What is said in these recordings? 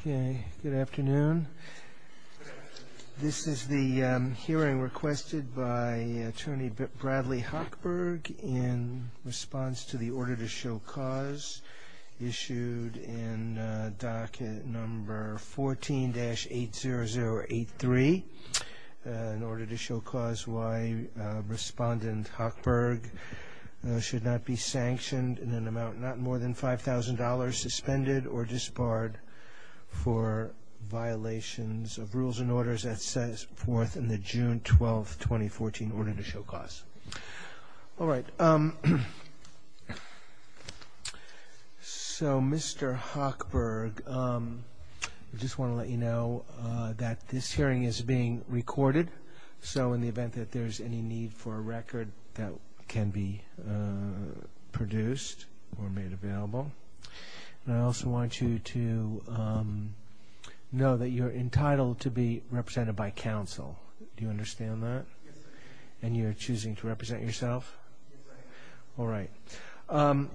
okay good afternoon this is the hearing requested by attorney Bradley Hochberg in response to the order to show cause issued in docket number 14-80083 in order to show cause why respondent Hochberg should not be sanctioned in an for violations of rules and orders that says forth in the June 12 2014 order to show cause all right so mr. Hochberg I just want to let you know that this hearing is being recorded so in the event that there's any need for a record that can be produced or made available I also want you to know that you're entitled to be represented by counsel you understand that and you're choosing to represent yourself all right all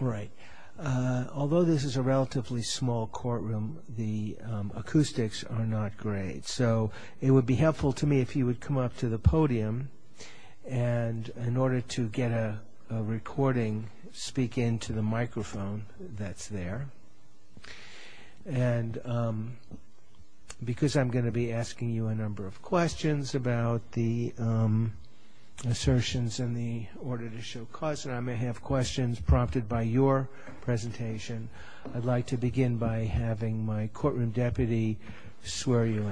right although this is a relatively small courtroom the acoustics are not great so it would be helpful to me if you would come up to the podium and in order to get a recording speak into the microphone that's there and because I'm going to be asking you a number of questions about the assertions in the order to show cause and I may have questions prompted by your presentation I'd like to begin by having my courtroom deputy swear you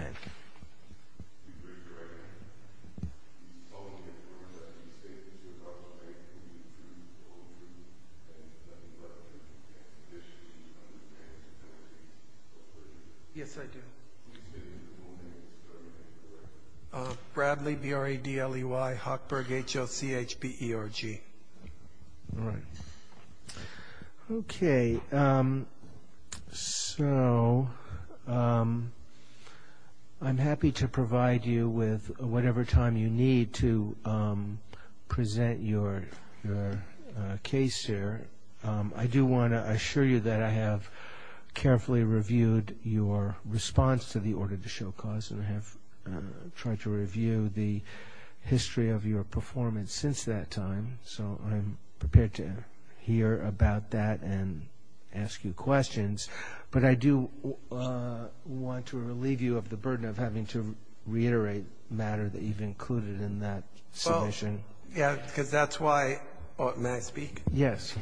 in uh... bradley b r a d l e y hawkberg h l c h p e r g okay uh... snow uh... uh... i'm happy to provide you with whatever time you need to uh... present your uh... case here uh... i do want to assure you that i have carefully reviewed your response to the order to show cause tried to review the history of your performance since that time so picture here about that and ask you questions but i do want to relieve you of the burden of having to reiterate matter that you've included in that solution yet because that's why what may speak yes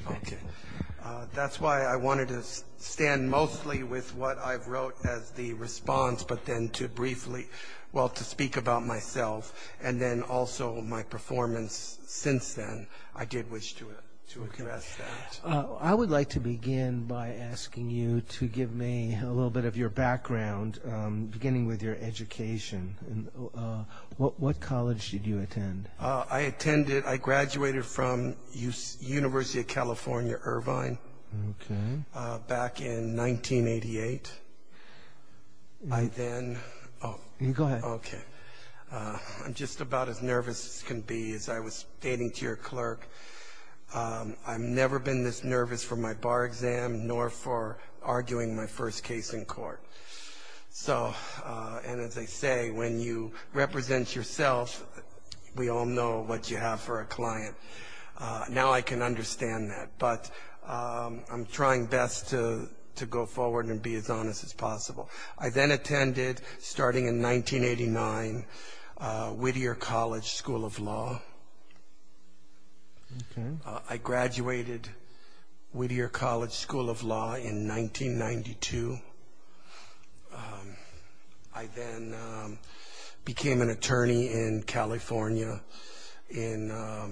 uh... that's why i wanted to stand mostly with what i've wrote as the response but then to briefly well to speak about myself and then also my performance since then i did wish to to address that uh... i would like to begin by asking you to give me a little bit of your background uh... beginning with your education what what college did you attend uh... i attended i graduated from university of california irvine uh... back in nineteen eighty eight by then go ahead i'm just about as nervous as can be as i was stating to your clerk uh... i've never been this nervous for my bar exam nor for arguing my first case in court so uh... and as they say when you represent yourself we all know what you have for a client uh... now i can understand that but uh... i'm trying best to to go forward and be as honest as possible i then attended starting in nineteen eighty nine uh... whittier college school of law uh... i graduated whittier college school of law in nineteen ninety two became an attorney in california in uh...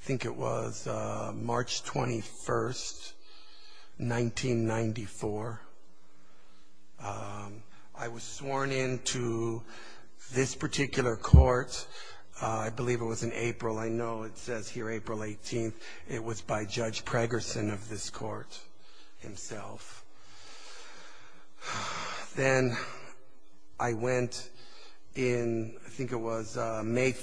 think it was uh... march twenty first nineteen ninety four uh... i was sworn in to this particular court uh... i believe it was in april i know it says here april eighteenth it was by judge preggerson of this court himself i went in think it was uh... made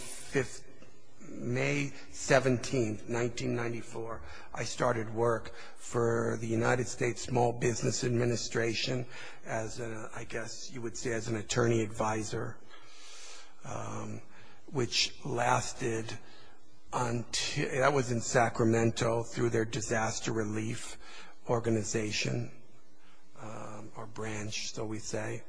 seventeen nineteen ninety four i started work for the united states small business administration as uh... i guess you would say as an attorney advisor uh... which lasted uh... that was in sacramento through their disaster relief organization uh... or branch so we say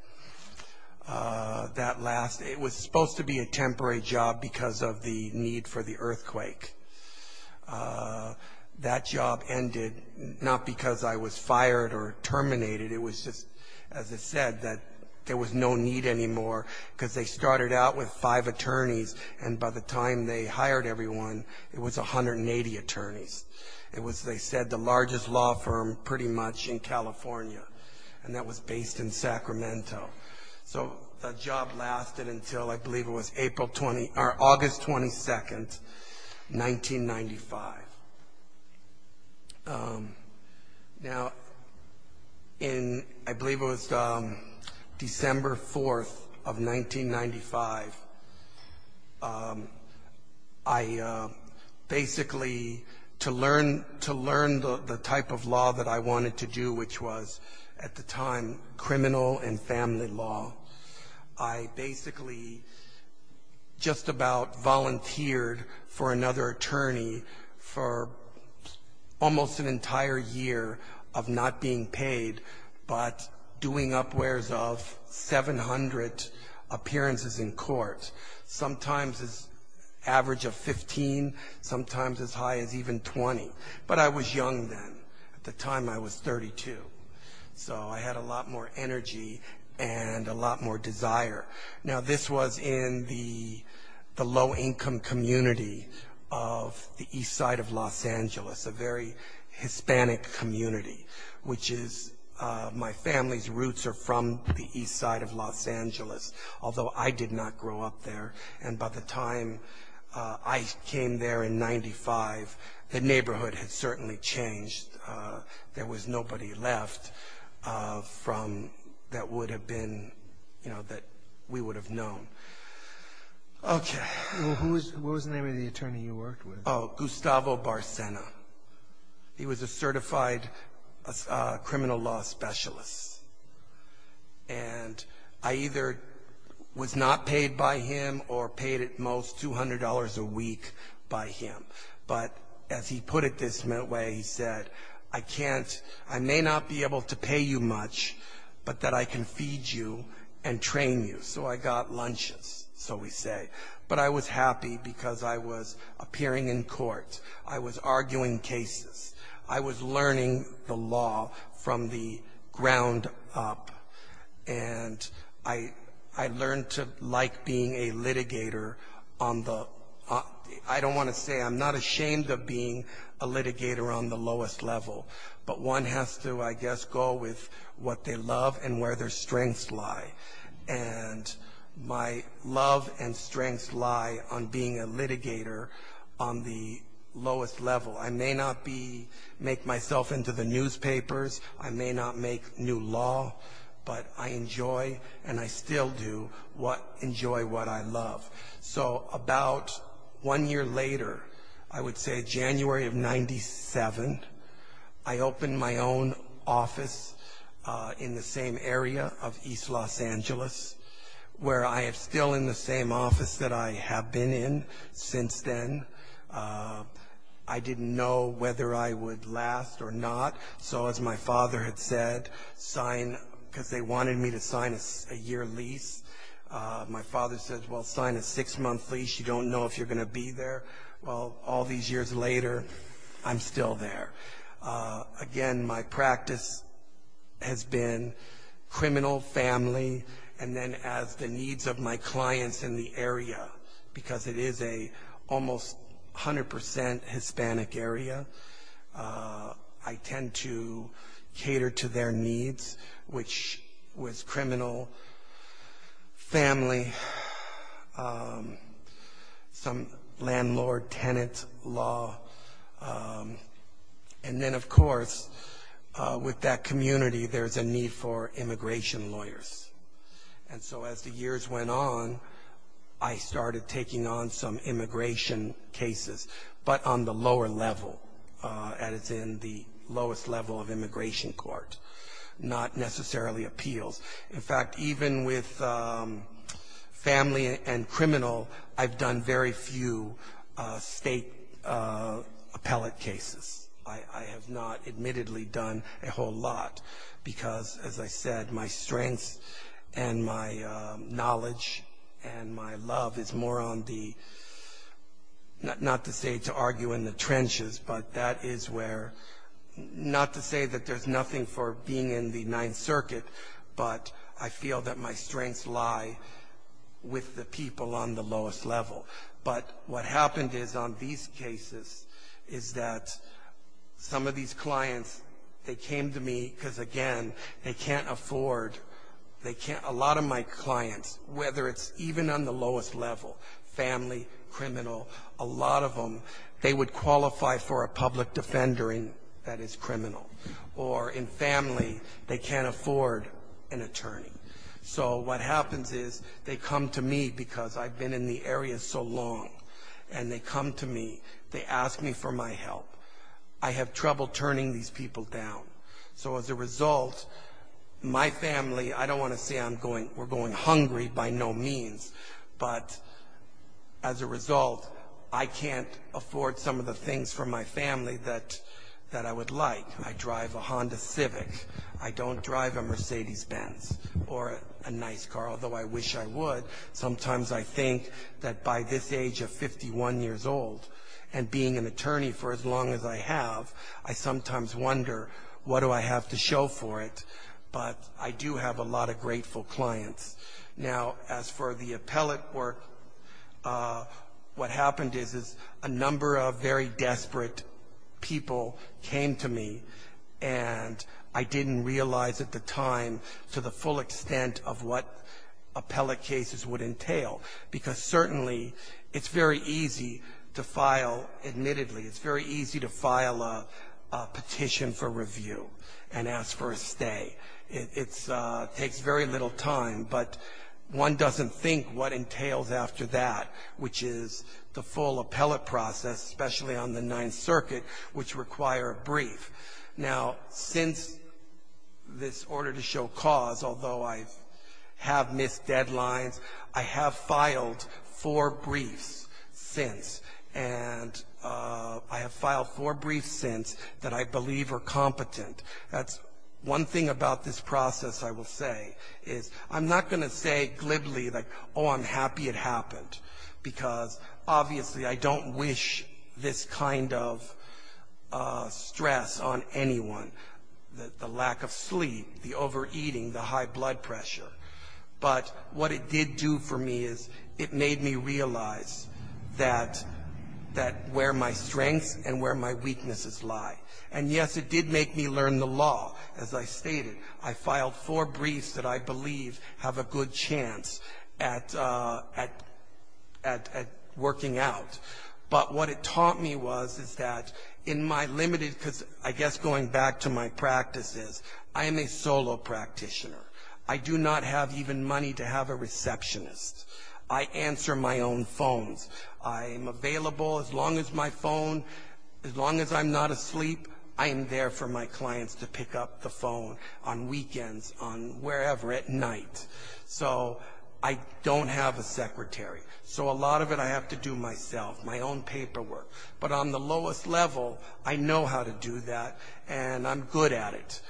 uh... that last it was supposed to be a temporary job because of the need for the earthquake uh... that job ended not because i was fired or terminated it was just as i said that there was no need anymore because they started out with five attorneys and by the time they hired everyone it was a hundred and eighty attorneys it was they said the largest law firm pretty much in california and that was based in sacramento the job lasted until i believe it was april twenty or august twenty second nineteen ninety five in i believe it was uh... december fourth of nineteen ninety five uh... i uh... basically to learn to learn the type of law that i wanted to do which was at the time criminal and family law i basically just about volunteered for another attorney for almost an entire year of not being paid doing upwares of seven hundred appearances in court sometimes it's average of fifteen sometimes as high as even twenty but i was young then at the time i was thirty two so i had a lot more energy and a lot more desire now this was in the the low-income community of the east side of los angeles a very hispanic community which is uh... my family's roots are from the east side of los angeles although i did not grow up there and by the time uh... ice came there in ninety five the neighborhood certainly changed uh... there was nobody left uh... from that would have been you know that we would have known okay who was the attorney you worked with? oh gustavo barcena he was a certified uh... criminal law specialist and i either was not paid by him or paid at most two hundred dollars a week by him as he put it this way he said i can't i may not be able to pay you much but that i can feed you and train you so i got lunches so we say but i was happy because i was appearing in court i was arguing cases i was learning the law from the ground up and i learned to like being a litigator on the i don't want to say i'm not ashamed of being a litigator on the lowest level but one has to i guess go with what they love and where their strengths lie and my love and strengths lie on being a litigator on the lowest level i may not be make myself into the newspapers i may not make new law but i enjoy and i still do enjoy what i love so about one year later i would say january of ninety seven i opened my own office uh... in the same area of east los angeles where i have still in the same office that i have been in since then uh... i didn't know whether i would last or not so as my father had said sign because they wanted me to sign a year lease uh... my father said well sign a six month lease you don't know if you're going to be there well all these years later i'm still there uh... again my practice has been criminal family and then as the needs of my clients in the area because it is a almost hundred percent hispanic area uh... i tend to cater to their needs which was criminal family uh... landlord tenant law and then of course uh... with that community there's a need for immigration lawyers and so as the years went on i started taking on some immigration cases but on the lower level uh... as in the lowest level of immigration court not necessarily appeals in fact even with uh... family and criminal i've done very few uh... state uh... appellate cases i have not admittedly done a whole lot because as i said my strengths and my uh... knowledge and my love is more on the not not to say to argue in the trenches but that is where not to say that there's nothing for being in the ninth circuit i feel that my strengths lie with the people on the lowest level but what happened is on these cases is that some of these clients they came to me because again they can't afford they can't a lot of my clients whether it's even on the lowest level family criminal a lot of them they would qualify for a public defender in that is criminal or in family they can't afford an attorney so what happens is they come to me because i've been in the area so long and they come to me they ask me for my help i have trouble turning these people down so as a result my family i don't want to say i'm going we're going hungry by no means as a result i can't afford some of the things for my family that that i would like to drive a honda civic i don't drive a mercedes-benz or a nice car although i wish i would sometimes i think that by this age of fifty one years old and being an attorney for as long as i have i sometimes wonder what do i have to show for it i do have a lot of grateful clients now as for the appellate work what happened is a number of very desperate people came to me and i didn't realize at the time to the full extent of what appellate cases would entail because certainly it's very easy to file admittedly it's very easy to file a petition for review and ask for a stay it's uh... takes very little time but one doesn't think what entails after that which is the full appellate process especially on the ninth circuit which require a brief now since this order to show cause although i have missed deadlines i have filed four briefs since and uh... i have filed four briefs since that i believe are competent one thing about this process i will say i'm not going to say glibly like oh i'm happy it happened because obviously i don't wish this kind of uh... stress on anyone the lack of sleep the overeating the high blood pressure but what it did do for me is it made me realize that that where my strengths and where my weaknesses lie and yes it did make me learn the law as i stated i filed four briefs that i believe have a good chance at uh... at at at working out but what it taught me was is that in my limited because i guess going back to my practices i'm a solo practitioner i do not have even money to have a receptionist i answer my own phones i'm available as long as my phone as long as i'm not asleep i'm there for my clients to pick up the phone on weekends on wherever at night so i don't have a secretary so a lot of it i have to do myself my own paperwork but on the lowest level i know how to do that and i'm good at it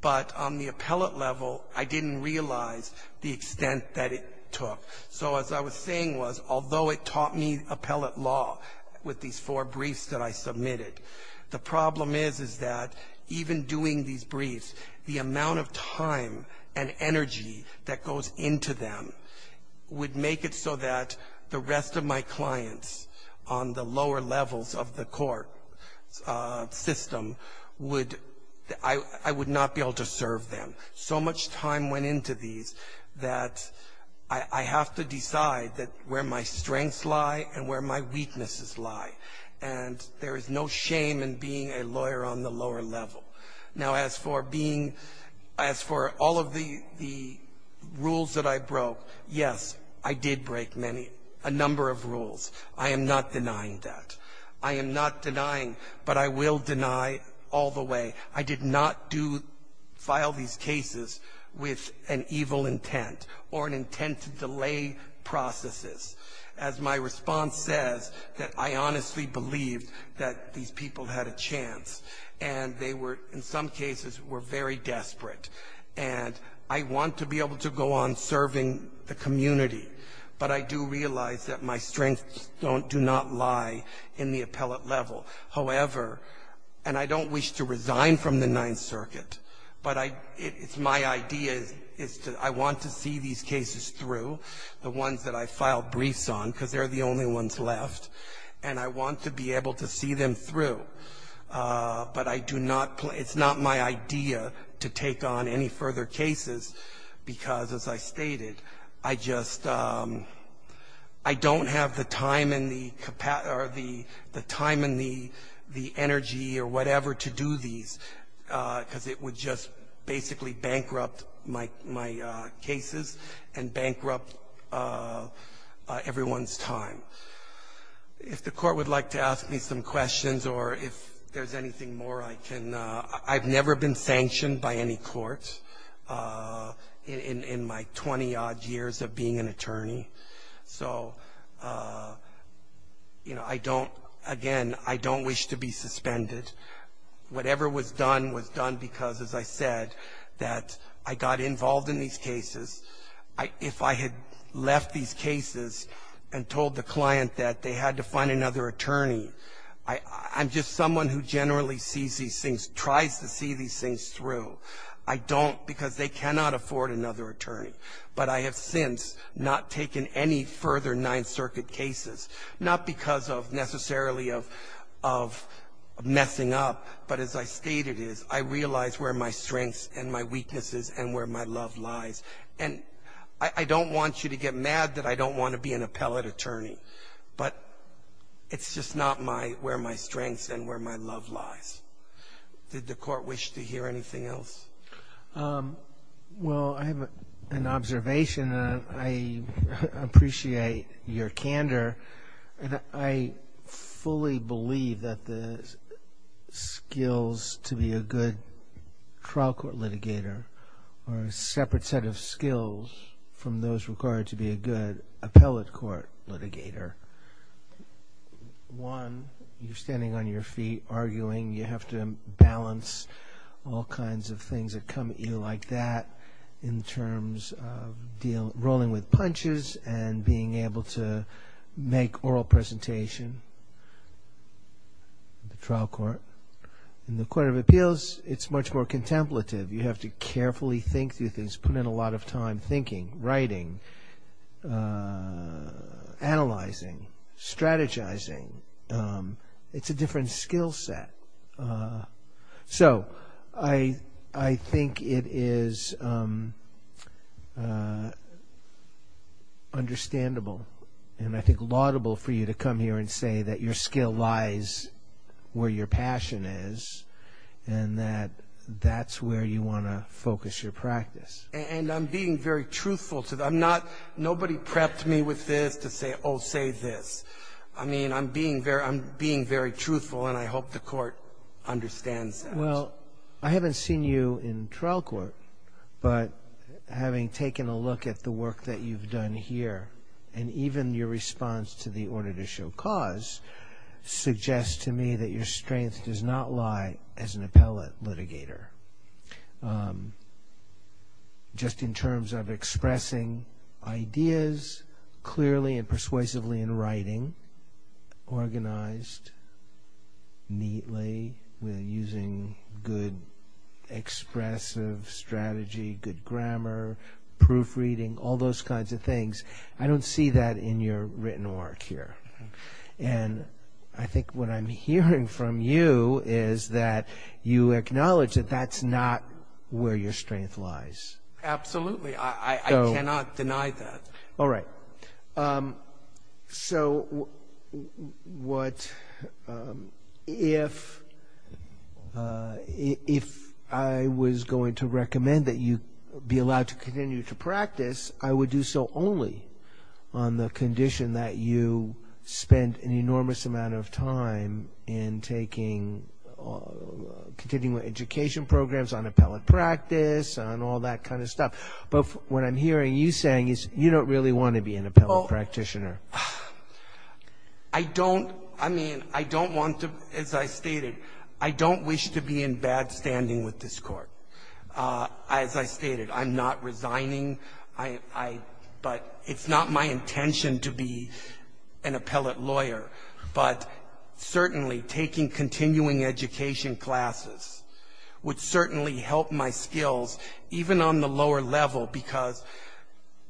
but on the appellate level i didn't realize the extent that it so as i was saying was although it taught me appellate law with these four briefs that i submitted the problem is is that even doing these briefs the amount of time and energy that goes into them would make it so that the rest of my clients on the lower levels of the court uh... system i would not be able to serve them so much time went into these that i have to decide that where my strengths lie and where my weaknesses lie and there is no shame in being a lawyer on the lower level now as for being as for all of the rules that i broke i did break many a number of rules i am not denying that i am not denying but i will deny all the way i did not do file these cases with an evil intent or an intent to delay processes as my response says that i honestly believe that these people had a chance and they were in some cases were very desperate i want to be able to go on serving the community but i do realize that my strengths do not lie in the appellate level however and i don't wish to resign from the ninth circuit it's my idea is that i want to see these cases through the ones that i filed briefs on because they're the only ones left and i want to be able to see them through uh... but i do not it's not my idea to take on any further cases because as i stated i just uh... i don't have the time and the capacity the time and the the energy or whatever to do these uh... because it would just basically bankrupt my my uh... cases and bankrupt uh... uh... everyone's time if the court would like to ask me some questions or if there's anything more i can uh... i've never been sanctioned by any court uh... in in in my twenty-odd years of being an attorney so uh... you know i don't again i don't wish to be suspended whatever was done was done because as i said i got involved in these cases if i had left these cases and told the client that they had to find another attorney i'm just someone who generally sees these things tries to see these things through i don't because they cannot afford another attorney but i have since not taken any further ninth circuit cases not because of necessarily of messing up but as i stated is i realize where my strengths and my weaknesses and where my love lies i don't want you to get mad that i don't want to be an appellate attorney it's just not my where my strengths and where my love lies did the court wish to hear anything else well i have an observation uh... i uh... appreciate your candor uh... i fully believe that the skills to be a good trial court litigator or a separate set of skills from those required to be a good appellate court litigator one you're standing on your feet arguing you have to balance all kinds of things that come at you like that in terms of rolling with punches and being able to make oral presentation trial court in the court of appeals it's much more contemplative you have to carefully think through things put in a lot of time thinking writing uh... strategizing it's a different skill set i think it is uh... understandable and i think a lot of both for you to come here and say that your skill lies where your passion is and that that's where you wanna focus your practice and i'm being very truthful to them not nobody prepped me with this to say oh say this i mean i'm being very i'm being very truthful and i hope the court understands that i haven't seen you in trial court having taken a look at the work that you've done here and even your response to the order to show cause suggests to me that your strength does not lie as an appellate litigator just in terms of expressing ideas clearly and persuasively in writing organized neatly using good expressive strategy good grammar proofreading all those kinds of things i don't see that in your written work here i think what i'm hearing from you is that you acknowledge that that's not where your strength lies absolutely i cannot deny that if uh... if i was going to recommend that you be allowed to continue to practice i would do so only on the condition that you spend an enormous amount of time in taking continuing education programs on appellate practice and all that kind of stuff but what i'm hearing you saying is you don't really want to be an appellate practitioner i don't i mean i don't want to as i stated i don't wish to be in bad standing with this court uh... as i stated i'm not resigning i i it's not my intention to be an appellate lawyer but certainly taking continuing education classes would certainly help my skills even on the lower level because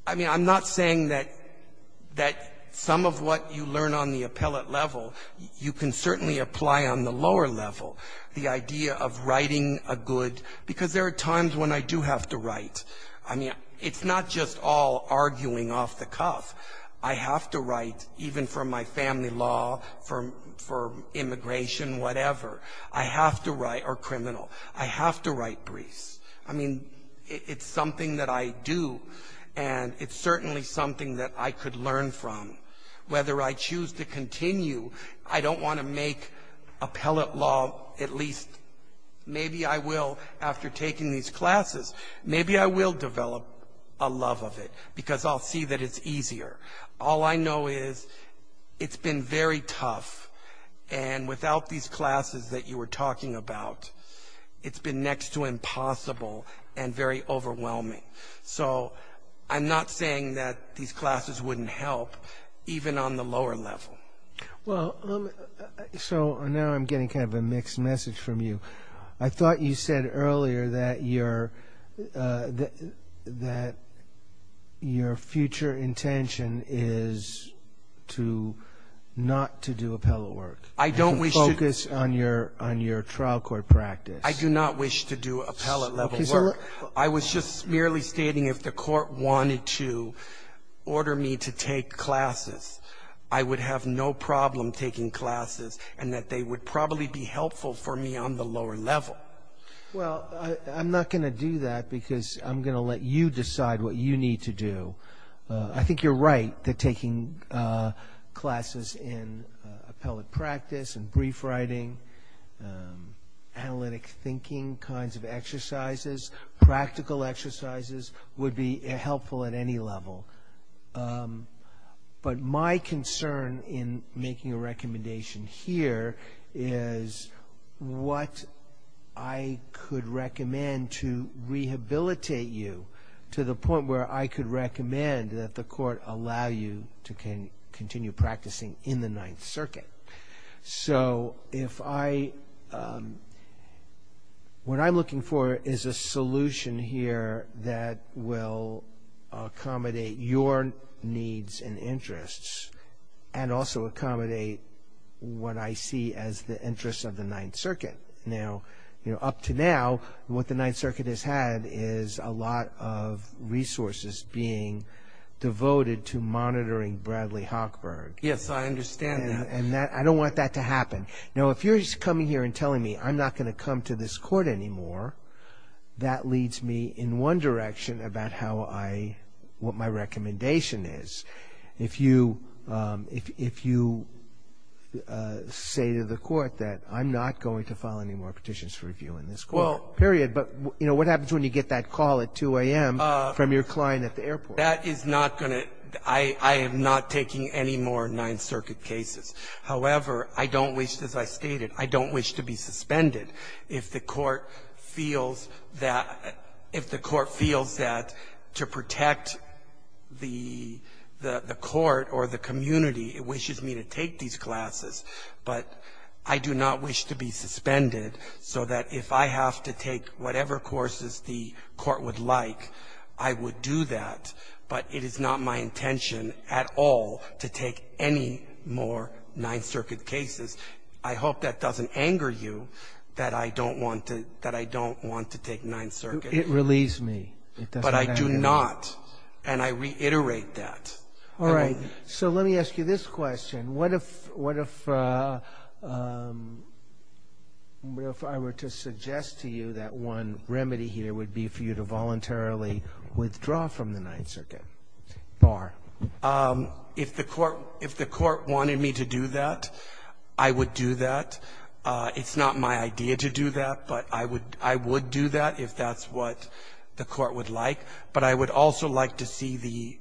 i mean i'm not saying that some of what you learn on the appellate level you can certainly apply on the lower level the idea of writing a good because there are times when i do have to write it's not just all arguing off the cuff i have to write even for my family law for immigration whatever i have to write or criminal i have to write briefs it's something that i do and it's certainly something that i could learn from whether i choose to continue i don't want to make appellate law at least maybe i will after taking these classes maybe i will develop a love of it because i'll see that it's easier all i know is it's been very tough and without these classes that you were talking about it's been next to impossible and very overwhelming so i'm not saying that these classes wouldn't help even on the lower level well uh... so now i'm getting kind of a mixed message from you i thought you said earlier that you're uh... that that your future intention is to not to do appellate work i don't wish to focus on your trial court practice i do not wish to do appellate level work i was just merely stating if the court wanted to order me to take classes i would have no problem taking classes and that they would probably be helpful for me on the lower level well i'm not going to do that because i'm going to let you decide what you need to do uh... i think you're right that taking uh... classes in appellate practice and brief writing analytic thinking kinds of exercises practical exercises would be helpful at any level uh... but my concern in making a recommendation here is what i could recommend to rehabilitate you to the point where i could recommend that the court allow you to continue practicing in the ninth circuit so if i what i'm looking for is a solution here that will accommodate your needs and interests and also accommodate what i see as the interests of the ninth circuit up to now what the ninth circuit has had is a lot of resources being devoted to monitoring bradley hockberg yes i understand that and that i don't want that to happen now if you're just coming here and telling me i'm not going to come to this court anymore that leads me in one direction about how i what my recommendation is if you uh... if you uh... say to the court that i'm not going to file any more petitions for review in this court period but you know what happens when you get that call at two a.m. from your client at the airport that is not going to i am not taking any more ninth circuit cases however i don't wish as i stated i don't wish to be suspended if the court feels if the court feels that to protect the the court or the community it wishes me to take these classes i do not wish to be suspended so that if i have to take whatever courses the court would like i would do that but it is not my intention at all to take any more ninth circuit cases i hope that doesn't anger you that i don't want to that i don't want to take ninth circuit it relieves me but i do not and i reiterate that so let me ask you this question what if what if uh... if i were to suggest to you that one remedy here would be for you to voluntarily withdraw from the ninth circuit if the court if the court wanted me to do that i would do that uh... it's not my idea to do that but i would i would do that if that's what the court would like but i would also like to see the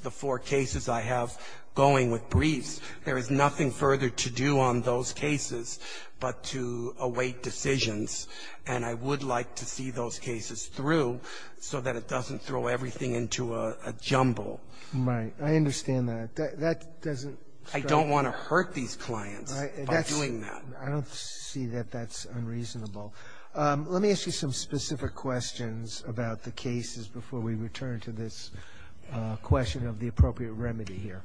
the four cases i have going with briefs there is nothing further to do on those cases but to await decisions and i would like to see those cases through so that it doesn't throw everything into a jumble right i understand that that doesn't i don't want to hurt these clients by doing that i don't see that that's unreasonable uh... let me ask you some specific questions about the cases before we return to this uh... question of the appropriate remedy here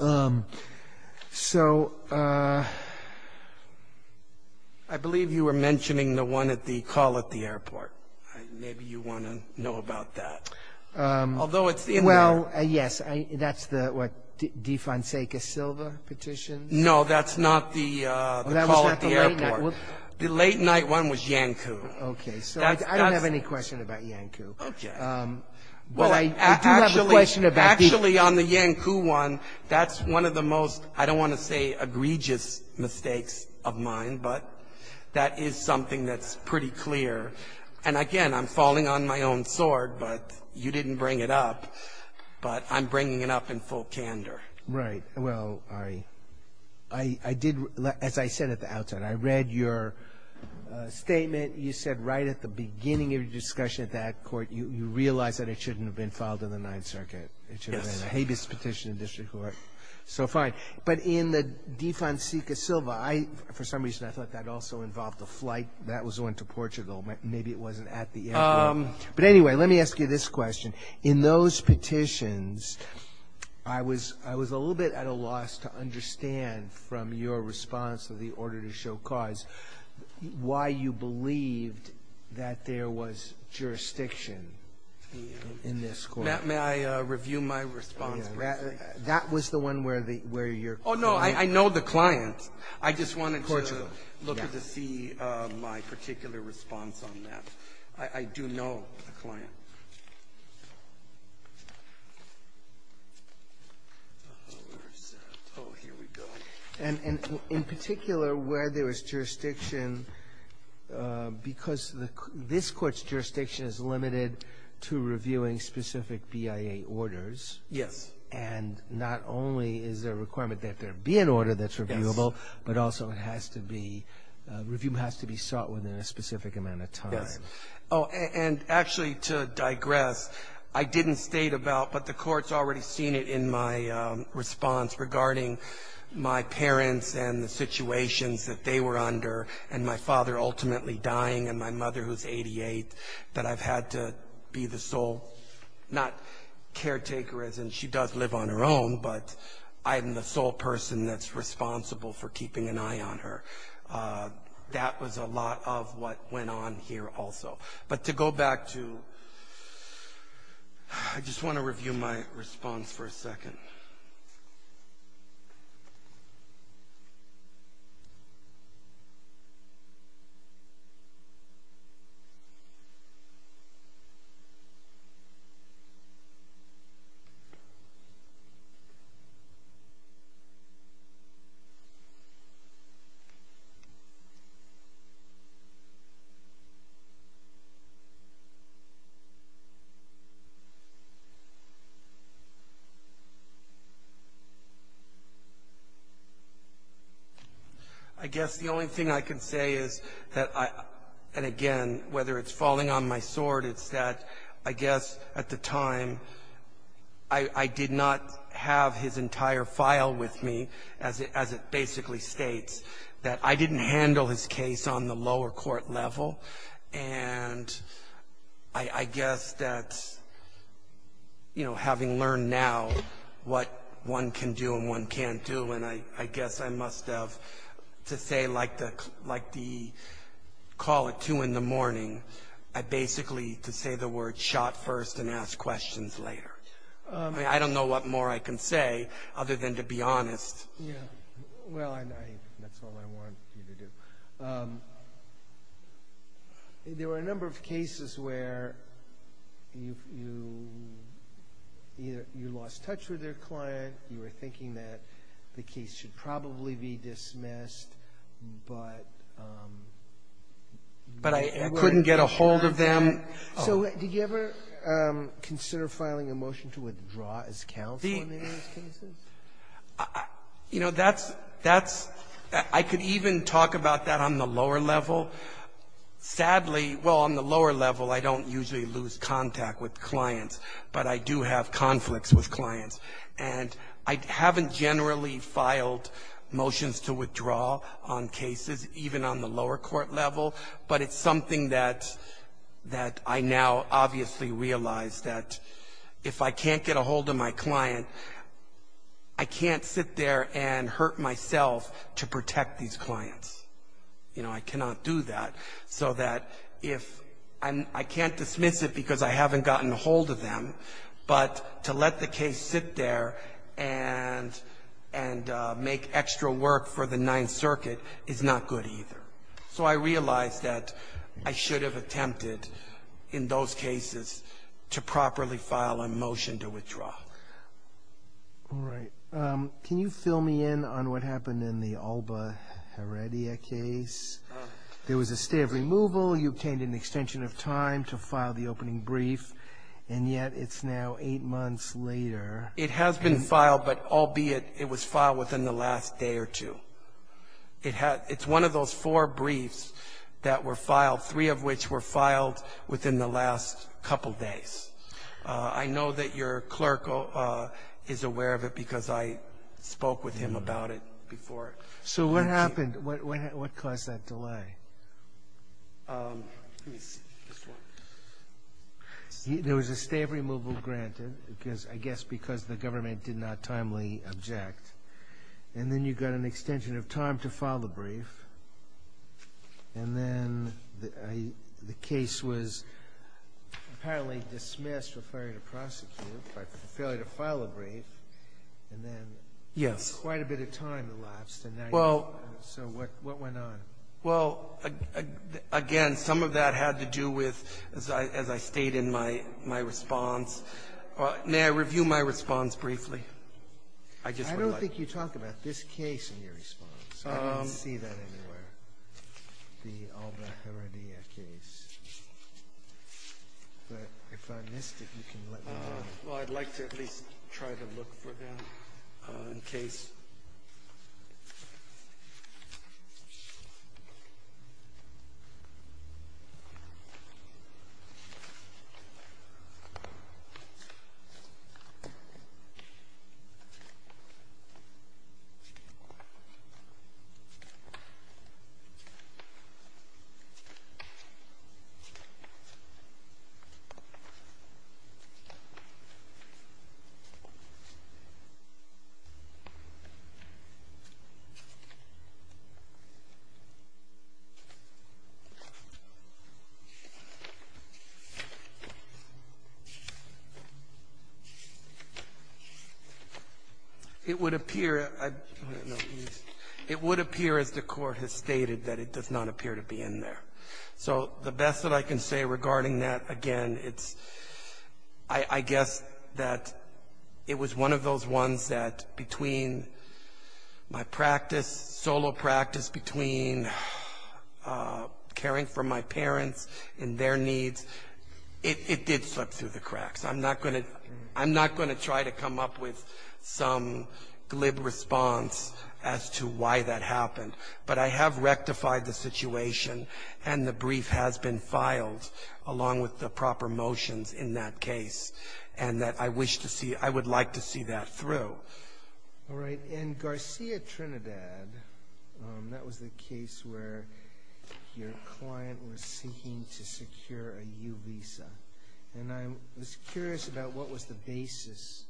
uh... so uh... i believe you were mentioning the one at the call at the airport maybe you want to know about that uh... although it's in there well yes that's the what the late night one was yanku okay so i don't have any question about yanku well i do have a question about the actually on the yanku one that's one of the most i don't want to say egregious mistakes of mine but that is something that's pretty clear and again i'm falling on my own sword but you didn't bring it up but i'm bringing it up in full candor right well i i did as i said at the outset i read your uh... statement you said right at the beginning of your discussion at that court you realize that it shouldn't have been filed in the ninth circuit it should have been a habeas petition in district court so fine but in the defunct sica silva i for some reason i thought that also involved a flight that was on to portugal maybe it wasn't at the airport but anyway let me ask you this question in those petitions i was i was a little bit at a loss to understand from your response to the order to show cause why you believed that there was jurisdiction in this court may i review my response that was the one where your oh no i know the client i just wanted to look to see my particular response on that i do know and in particular where there is jurisdiction uh... because the this court's jurisdiction is limited to reviewing specific bia orders yes and not only is there a requirement that there be an order that's reviewable but also it has to be review has to be sought within a specific amount of time oh and actually to digress i didn't state about but the court's already seen it in my uh... response regarding my parents and the situations that they were under and my father ultimately dying and my mother who's eighty-eight that i've had to be the sole caretaker as in she does live on her own but i'm the sole person that's responsible for keeping an eye on her that was a lot of what went on here also but to go back to i just want to review my response for a second uh... i guess the only thing i can say is that uh... and again whether it's falling on my sword it's that i guess at the time i did not have his entire file with me as it basically states that i didn't handle his case on the lower court level and i guess that's you know having learned now what one can do and one can't do and i guess i must have to say like the call at two in the morning i basically to say the word shot first and ask questions later uh... i don't know what more i can say other than to be honest well and i that's all i want there were a number of cases where you lost touch with your client you were thinking that the case should probably be dismissed but but i couldn't get a hold of them so did you ever consider filing a motion to withdraw as counsel on any of those cases? you know that's i could even talk about that on the lower level sadly well on the lower level i don't usually lose contact with clients but i do have conflicts with clients and i haven't generally filed motions to withdraw on cases even on the lower court level but it's something that that i now obviously realize that if i can't get a hold of my client i can't sit there and hurt myself to protect these clients you know i cannot do that so that and i can't dismiss it because i haven't gotten a hold of them but to let the case sit there and and make extra work for the ninth circuit is not good either so i realize that i should have attempted in those cases to properly file a motion to withdraw can you fill me in on what happened in the Alba Heredia case? there was a stay of removal you obtained an extension of time to file the opening brief and yet it's now eight months later it has been filed but albeit it was filed within the last day or two it's one of those four briefs that were filed three of which were filed within the last couple days i know that your clerk is aware of it because i spoke with him about it so what happened what caused that delay? uh... there was a stay of removal granted because i guess because the government did not timely object and then you got an extension of time to file the brief and then the case was apparently dismissed for failure to prosecute for failure to file a brief yes quite a bit of time elapsed so what went on? well again some of that had to do with as i stated in my response may i review my response briefly? i don't think you talk about this case in your response i didn't see that anywhere the Alba Heredia case but if i missed it you can let me know well i'd like to at least try to look for them uh... in case it would appear as the court has stated that it does not appear to be in there so the best that i can say regarding that again it's i guess that it was one of those ones that between my practice solo practice between uh... caring for my parents and their needs it did slip through the cracks i'm not going to i'm not going to try to come up with some glib response as to why that happened but i have rectified the situation and the brief has been filed along with the proper motions in that case and that i wish to see i would like to see that through alright and Garcia Trinidad uh... that was the case where your client was seeking to secure a U-Visa and i was curious about what was the basis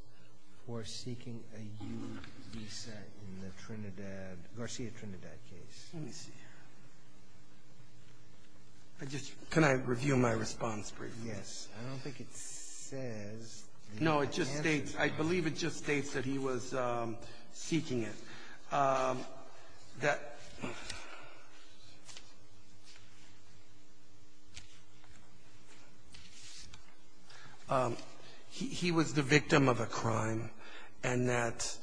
for seeking a U-Visa in the Trinidad Garcia Trinidad case let me see here can i review my response briefly yes i don't think it says no it just states i believe it just states that he was uh... seeking it uh... he was the victim of a crime and that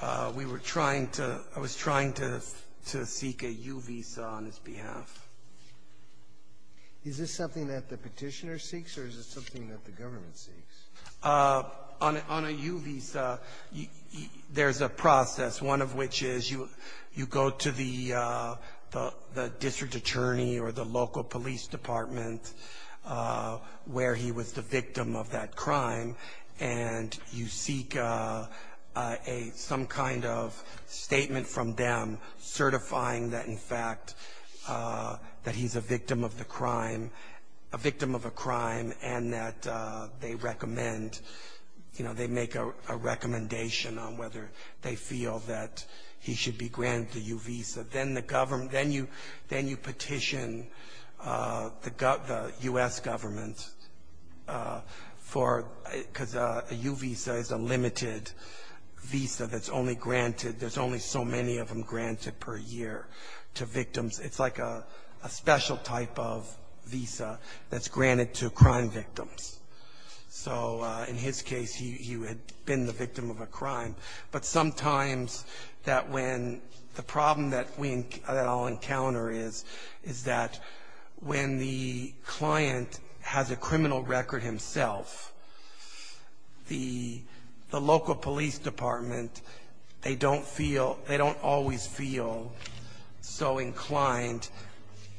uh... we were trying to i was trying to to seek a U-Visa on his behalf is this something that the petitioner seeks or is this something that the government seeks? uh... on a U-Visa there's a process one of which is you you go to the uh... the district attorney or the local police department uh... where he was the victim of that crime and you seek uh... uh... a some kind of statement from them certifying that in fact uh... that he's a victim of the crime a victim of a crime and that uh... they recommend you know they make a recommendation on whether they feel that he should be granted a U-Visa then the government then you then you petition uh... the U.S. government for uh... because a U-Visa is a limited visa that's only granted there's only so many of them granted per year to victims it's like a a special type of visa that's granted to crime victims so uh... in his case he had been the victim of a crime but sometimes that when the problem that we all encounter is is that when the client has a criminal record himself the local police department they don't feel they don't always feel so inclined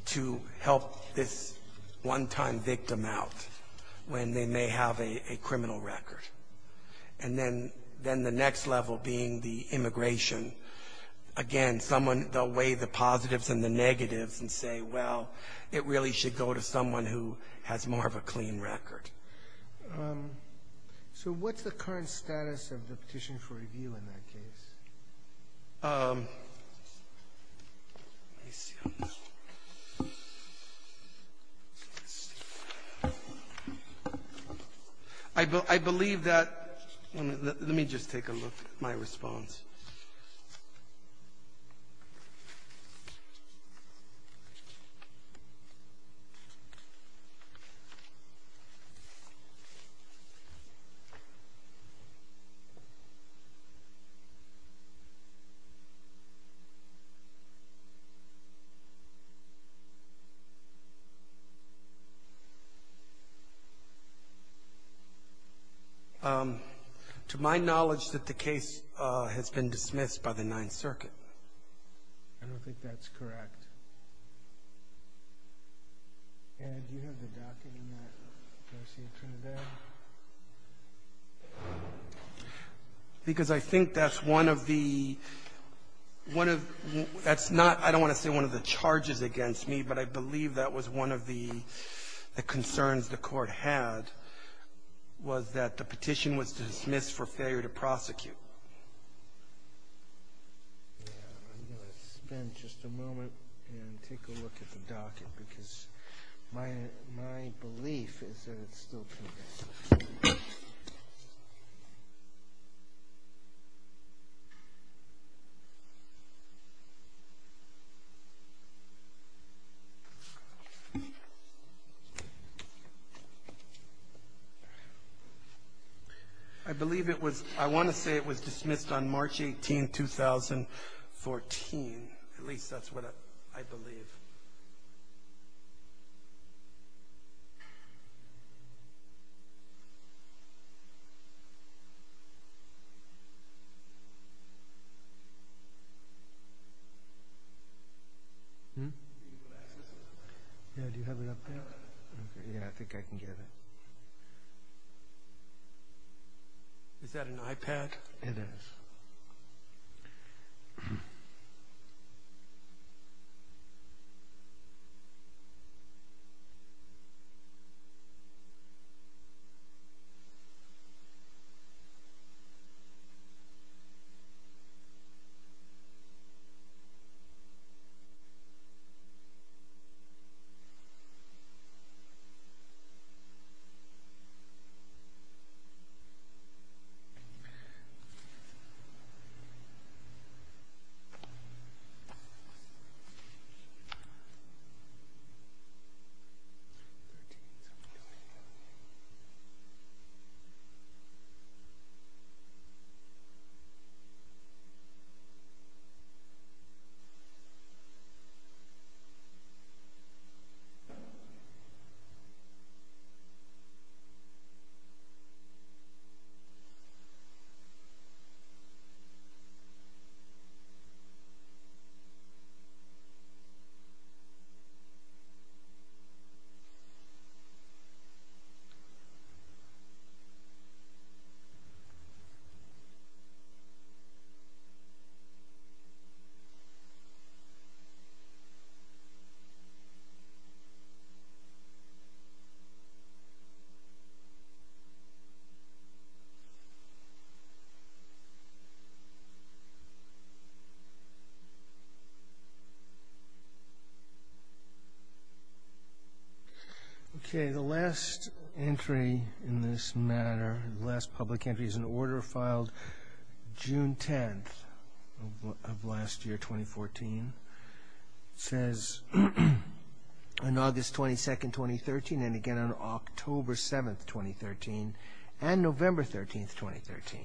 to help this one-time victim out when they may have a a criminal record and then then the next level being the immigration again someone they'll weigh the positives and the negatives and say well it really should go to someone who has more of a clean record uh... so what's the current status of the petition for review in that case? I believe that let me just take a look at my response uh... to my knowledge that the case uh... has been dismissed by the ninth circuit I don't think that's correct because I think that's one of the one of that's not I don't want to say one of the charges against me but I believe that was one of the concerns the court had was that the petition was dismissed for failure to prosecute I'm going to spend just a moment and take a look at the docket because my belief is that it's still pending I believe it was I want to say it was dismissed on March 18, 2014 at least that's what I believe yeah do you have it up there? yeah I think I can get it is that an iPad? it is I'm going to take this up a little bit more I'm going to take this up a little bit more okay the last entry in this matter the last public entry is an order filed June 10th of last year 2014 says on August 22nd, 2013 and again on October 7th, 2013 and November 13th, 2013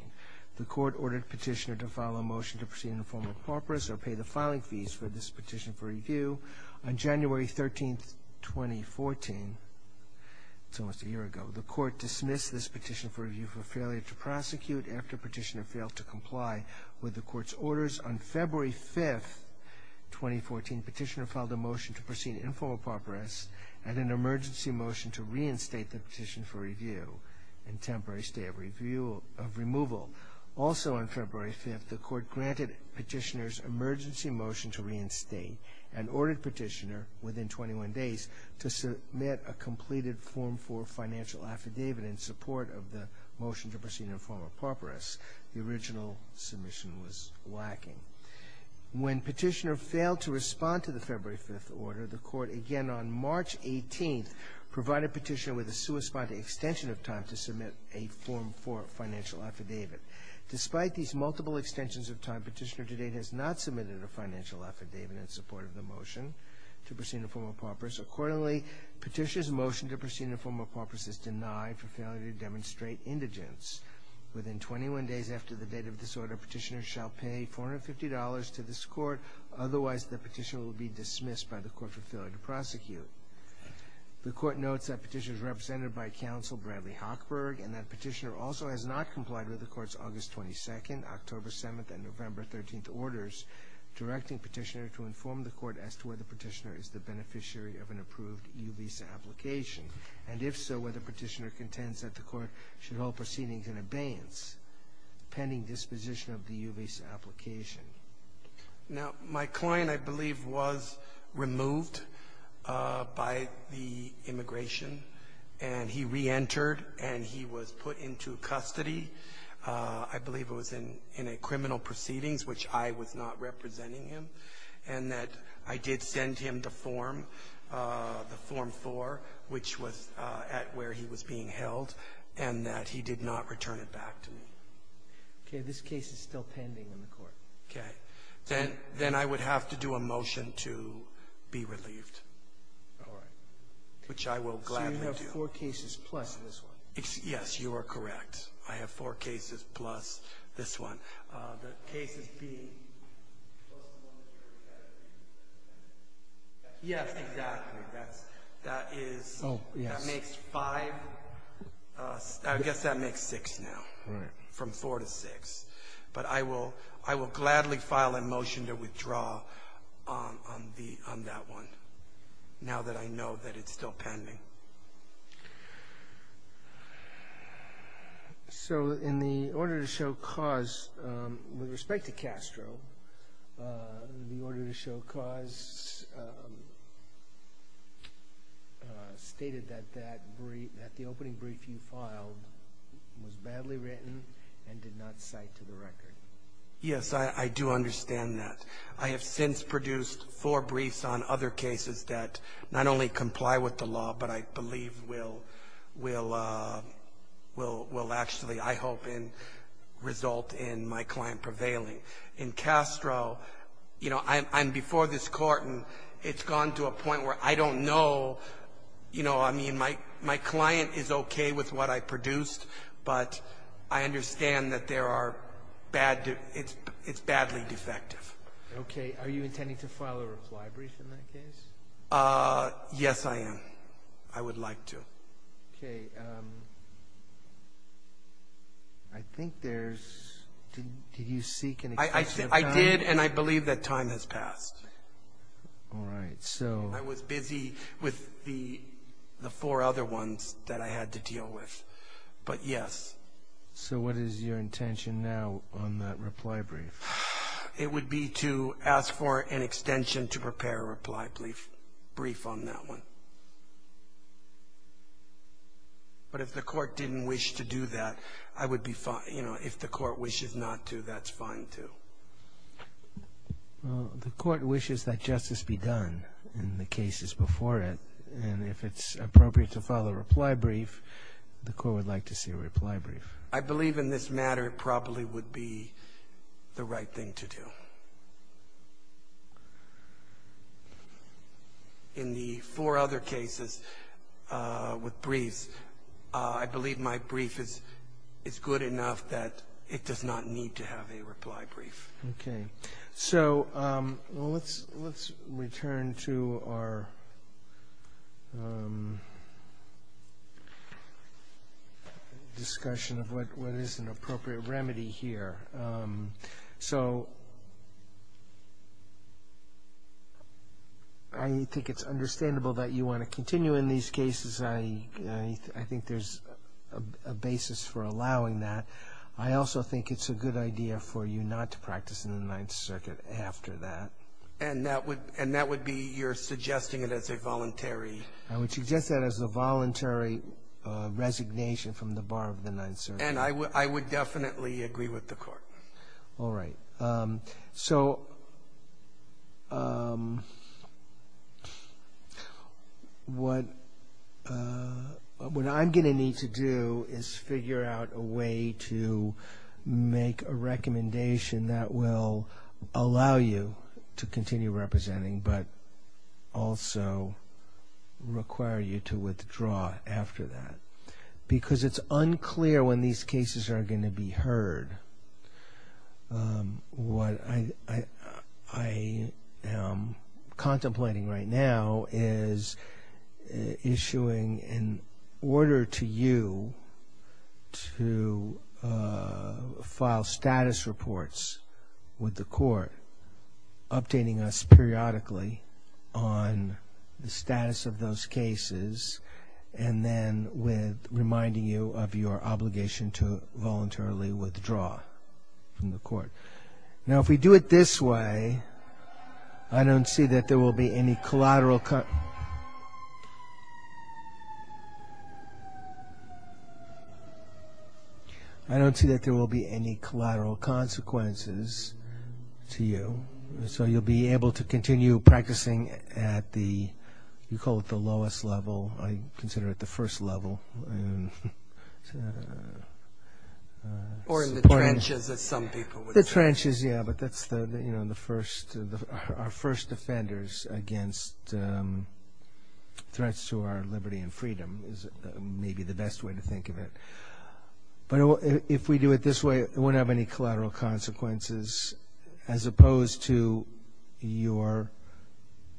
the court ordered petitioner to file a motion to proceed in the form of paupers or pay the filing fees for this petition for review on January 13th, 2014 it's almost a year ago the court dismissed this petition for review for failure to prosecute after petitioner failed to comply with the court's orders on February 5th, 2014 petitioner filed a motion to proceed in the form of paupers and an emergency motion to reinstate the petition for review in temporary stay of removal and ordered petitioner within 21 days to submit a completed form for financial affidavit in support of the motion to proceed in the form of paupers the original submission was lacking when petitioner failed to respond to the February 5th order the court again on March 18th provided petitioner with a corresponding extension of time to submit a form for financial affidavit despite these multiple extensions of time petitioner to date has not submitted a financial affidavit in support of the motion to proceed in the form of paupers accordingly petitioner's motion to proceed in the form of paupers is denied for failure to demonstrate indigence within 21 days after the date of this order petitioner shall pay $450 to this court otherwise the petitioner will be dismissed by the court for failure to prosecute the court notes that petitioner is represented by counsel Bradley Hochberg and that petitioner also has not complied with the court's August 22nd, October 7th, and November 13th orders directing petitioner to inform the court as to whether petitioner is the beneficiary of an approved U-Visa application and if so whether petitioner contends that the court should hold proceedings in abeyance pending disposition of the U-Visa application now my client I believe was removed by the immigration and he re-entered and he was put into custody I believe it was in a criminal proceedings which I was not representing him and that I did send him the form the form 4 which was at where he was being held and that he did not return it back to me okay this case is still pending in the court then I would have to do a motion to be relieved which I will gladly do I have 4 cases plus this one yes you are correct I have 4 cases plus this one the cases being yes exactly that is that makes 5 I guess that makes 6 now from 4 to 6 but I will gladly file a motion to withdraw on that one now that I know that it is still pending so in the order to show cause with respect to Castro the order to show cause stated that the opening brief you filed was badly written and did not cite to the record yes I do understand that I have since produced 4 briefs on other cases that not only comply with the law but I believe will actually I hope result in my client prevailing in Castro you know I am before this court and it has gone to a point where I don't know you know I mean my client is okay with what I produced but I understand that there are it is badly defective okay are you intending to file a reply brief in that case yes I am I would like to okay I think there is did you seek an extension of time I did and I believe that time has passed alright so I was busy with the 4 other ones that I had to deal with but yes so what is your intention now on that reply brief it would be to ask for an extension to prepare a reply brief on that one but if the court didn't wish to do that I would be fine you know if the court wishes not to that is fine too the court wishes that justice be done in the cases before it and if it is appropriate to file a reply brief the court would like to see a reply brief I believe in this matter it probably would be the right thing to do in the 4 other cases with briefs I believe my brief is is good enough that it does not need to have a reply brief okay so let's return to our discussion of what is an appropriate remedy here so I think it is understandable that you want to continue in these cases I think there is a basis for allowing that I also think it is a good idea for you not to practice in the 9th circuit after that and that would be you are suggesting it as a voluntary I would suggest that as a voluntary resignation from the bar of the 9th circuit and I would definitely agree with the court alright so what what I am going to need to do is figure out a way to make a recommendation that will allow you to continue representing but also require you to withdraw after that because it is unclear when these cases are going to be heard what I I am contemplating right now is issuing an order to you to file status reports with the court updating us periodically on the status of those cases and then with reminding you of your obligation to voluntarily withdraw from the court now if we do it this way I don't see that there will be any collateral I don't see that there will be any collateral consequences to you so you will be able to continue practicing at the you call it the lowest level I consider it the first level or in the trenches as some people would say the trenches yeah but that's the first our first offenders against threats to our liberty and freedom is maybe the best way to think of it but if we do it this way it won't have any collateral consequences as opposed to your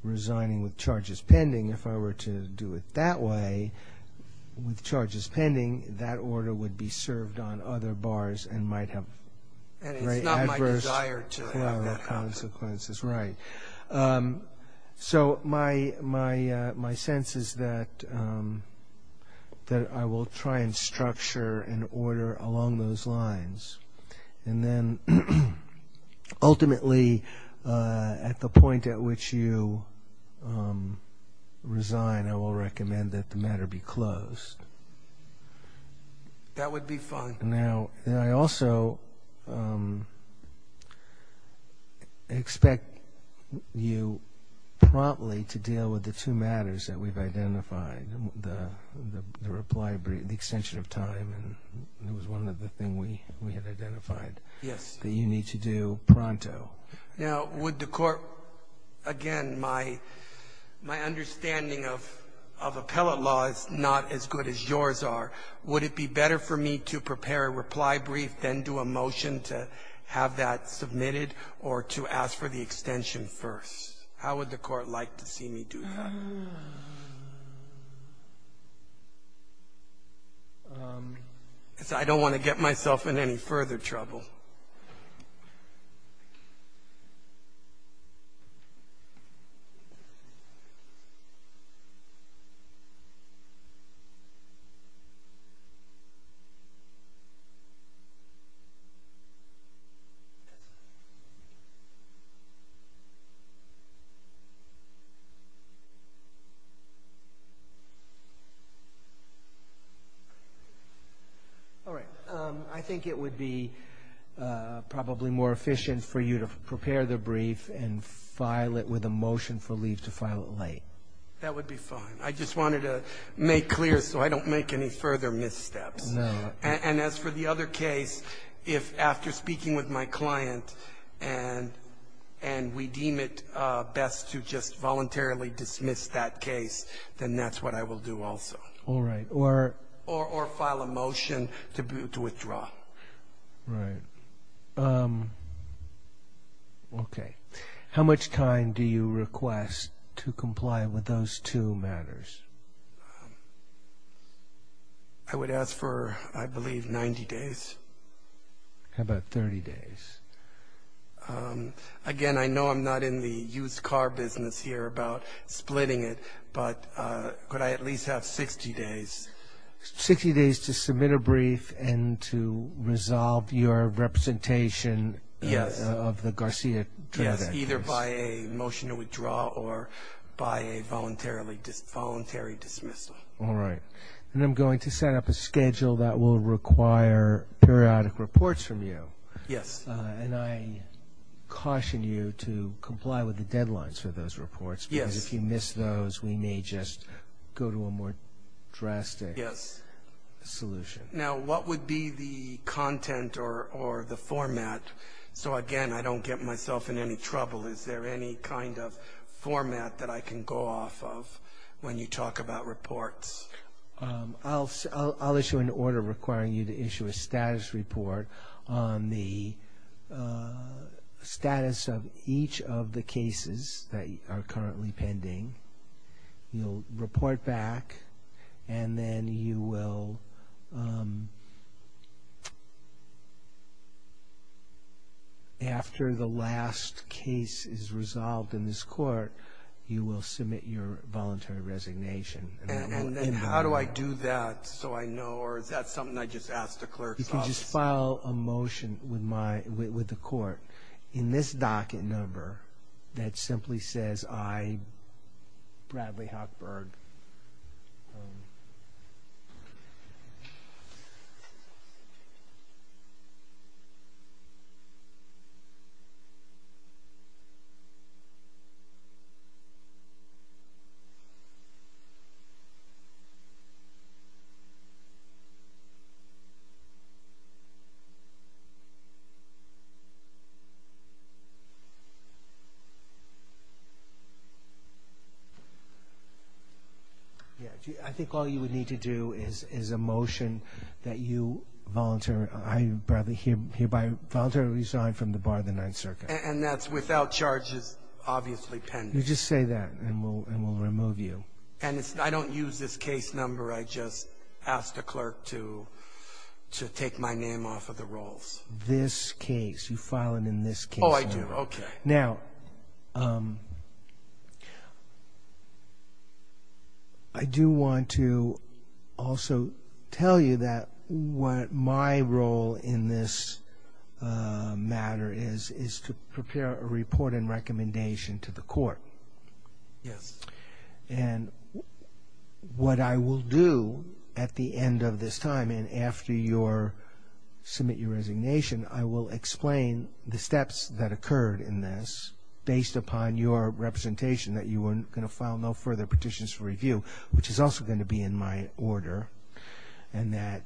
resigning with charges pending if I were to do it that way with charges pending that order would be served on other bars and might have very adverse collateral consequences so my sense is that that I will try and structure an order along those lines and then ultimately at the point at which you resign I will recommend that the matter be closed that would be fine now I also expect you promptly to deal with the two matters that we've identified the reply, the extension of time that was one of the things we had identified that you need to do pronto now would the court again my my understanding of of appellate law is not as good as yours are would it be better for me to prepare a reply brief then do a motion to have that submitted or to ask for the extension first how would the court like to see me do that I don't want to get myself in any further trouble all right I think it would be probably more efficient for you to prepare the brief and file it with a motion for leave to file it late that would be fine I just wanted to make clear so I don't make any further missteps and as for the other case if after speaking with my client and and we deem it best to just voluntarily dismiss that case then that's what I will do also all right or or file a motion to withdraw okay how much time do you request to comply with those two matters I would ask for I believe ninety days how about thirty days again I know I'm not in the used car business here about splitting it but could I at least have sixty days sixty days to submit a brief and to resolve your representation yes of the Garcia yes either by a motion to withdraw or by a voluntary dismissal all right and I'm going to set up a schedule that will require periodic reports from you yes and I caution you to comply with the deadlines for those reports yes if you miss those we may just go to a more drastic yes solution now what would be the content or or the format so again I don't get myself in any trouble is there any kind of format that I can go off of when you talk about reports I'll issue an order requiring you to issue a status report on the status of each of the cases that are currently pending you'll report back and then you will after the last case is resolved in this court you will submit your voluntary resignation and how do I do that so I know or is that something I just asked the clerk you can just file a motion with my with the court in this docket number that simply says I Bradley Hochberg yes I think all you would need to do is is a motion that you volunteer I Bradley here here by voluntary resign from the bar the Ninth Circuit and that's without charges obviously pending you just say that and we'll and we'll remove you and I don't use this case number I just asked the clerk to to take my name off of the rolls this case you file it in this case oh I do okay now I do want to also tell you that what my role in this matter is is to prepare a report and recommendation to the court yes and what I will do at the end of this time and after your submit your resignation I will explain the steps that occurred in this based upon your representation that you weren't going to file no further petitions review which is also going to be in my order and that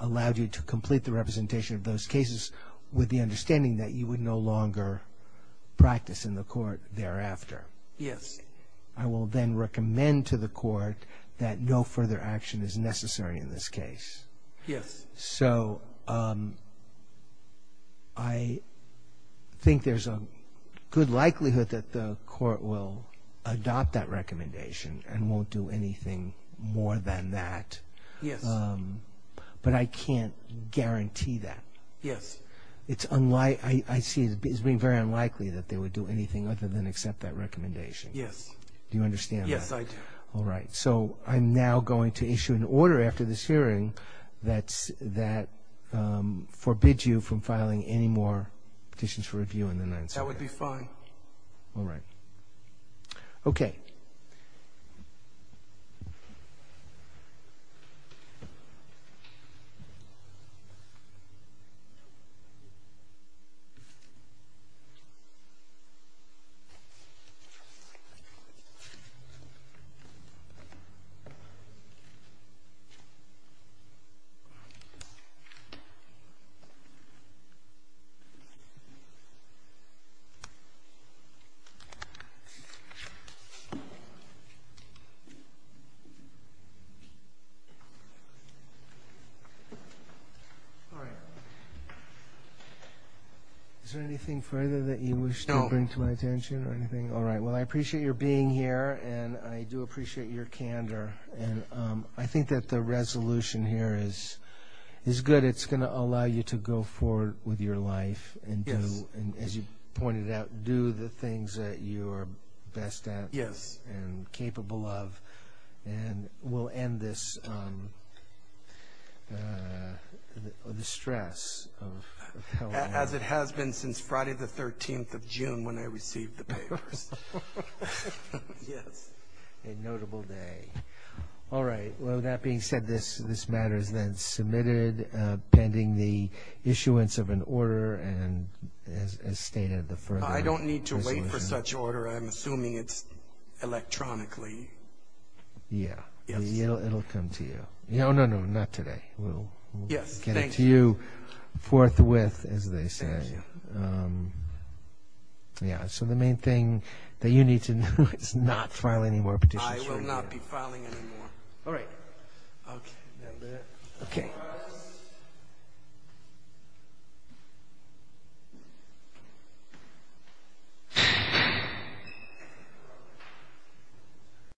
allowed you to complete the representation of those cases with the understanding that you would no longer practice in the court thereafter yes I will then recommend to the court that no further action is necessary in this case yes so I think there's a good likelihood that the court will adopt that recommendation and won't do anything more than that yes but I can't guarantee that yes it's unlike I see it as being very unlikely that they would do anything other than accept that recommendation yes do you understand yes I do all right so I'm now going to issue an order after this hearing that's that forbids you from filing any more petitions review that would be fine all right okay yes all right is there anything further that you wish to bring to my attention or anything? all right, well I appreciate your being here and I do appreciate your candor and I think that the resolution here is is good, it's going to allow you to go forward with your life and as you pointed out do the things that you are best at yes and capable of and we'll end this the stress as it has been since Friday the 13th of June when I received the papers yes a notable day all right, well that being said this matter is then submitted pending the issuance of an order and as stated I don't need to wait for such order I'm assuming it's electronically yeah it'll come to you no, no, no, not today we'll get it to you forthwith, as they say thank you yeah, so the main thing that you need to know is not file any more petitions I will not be filing any more all right okay okay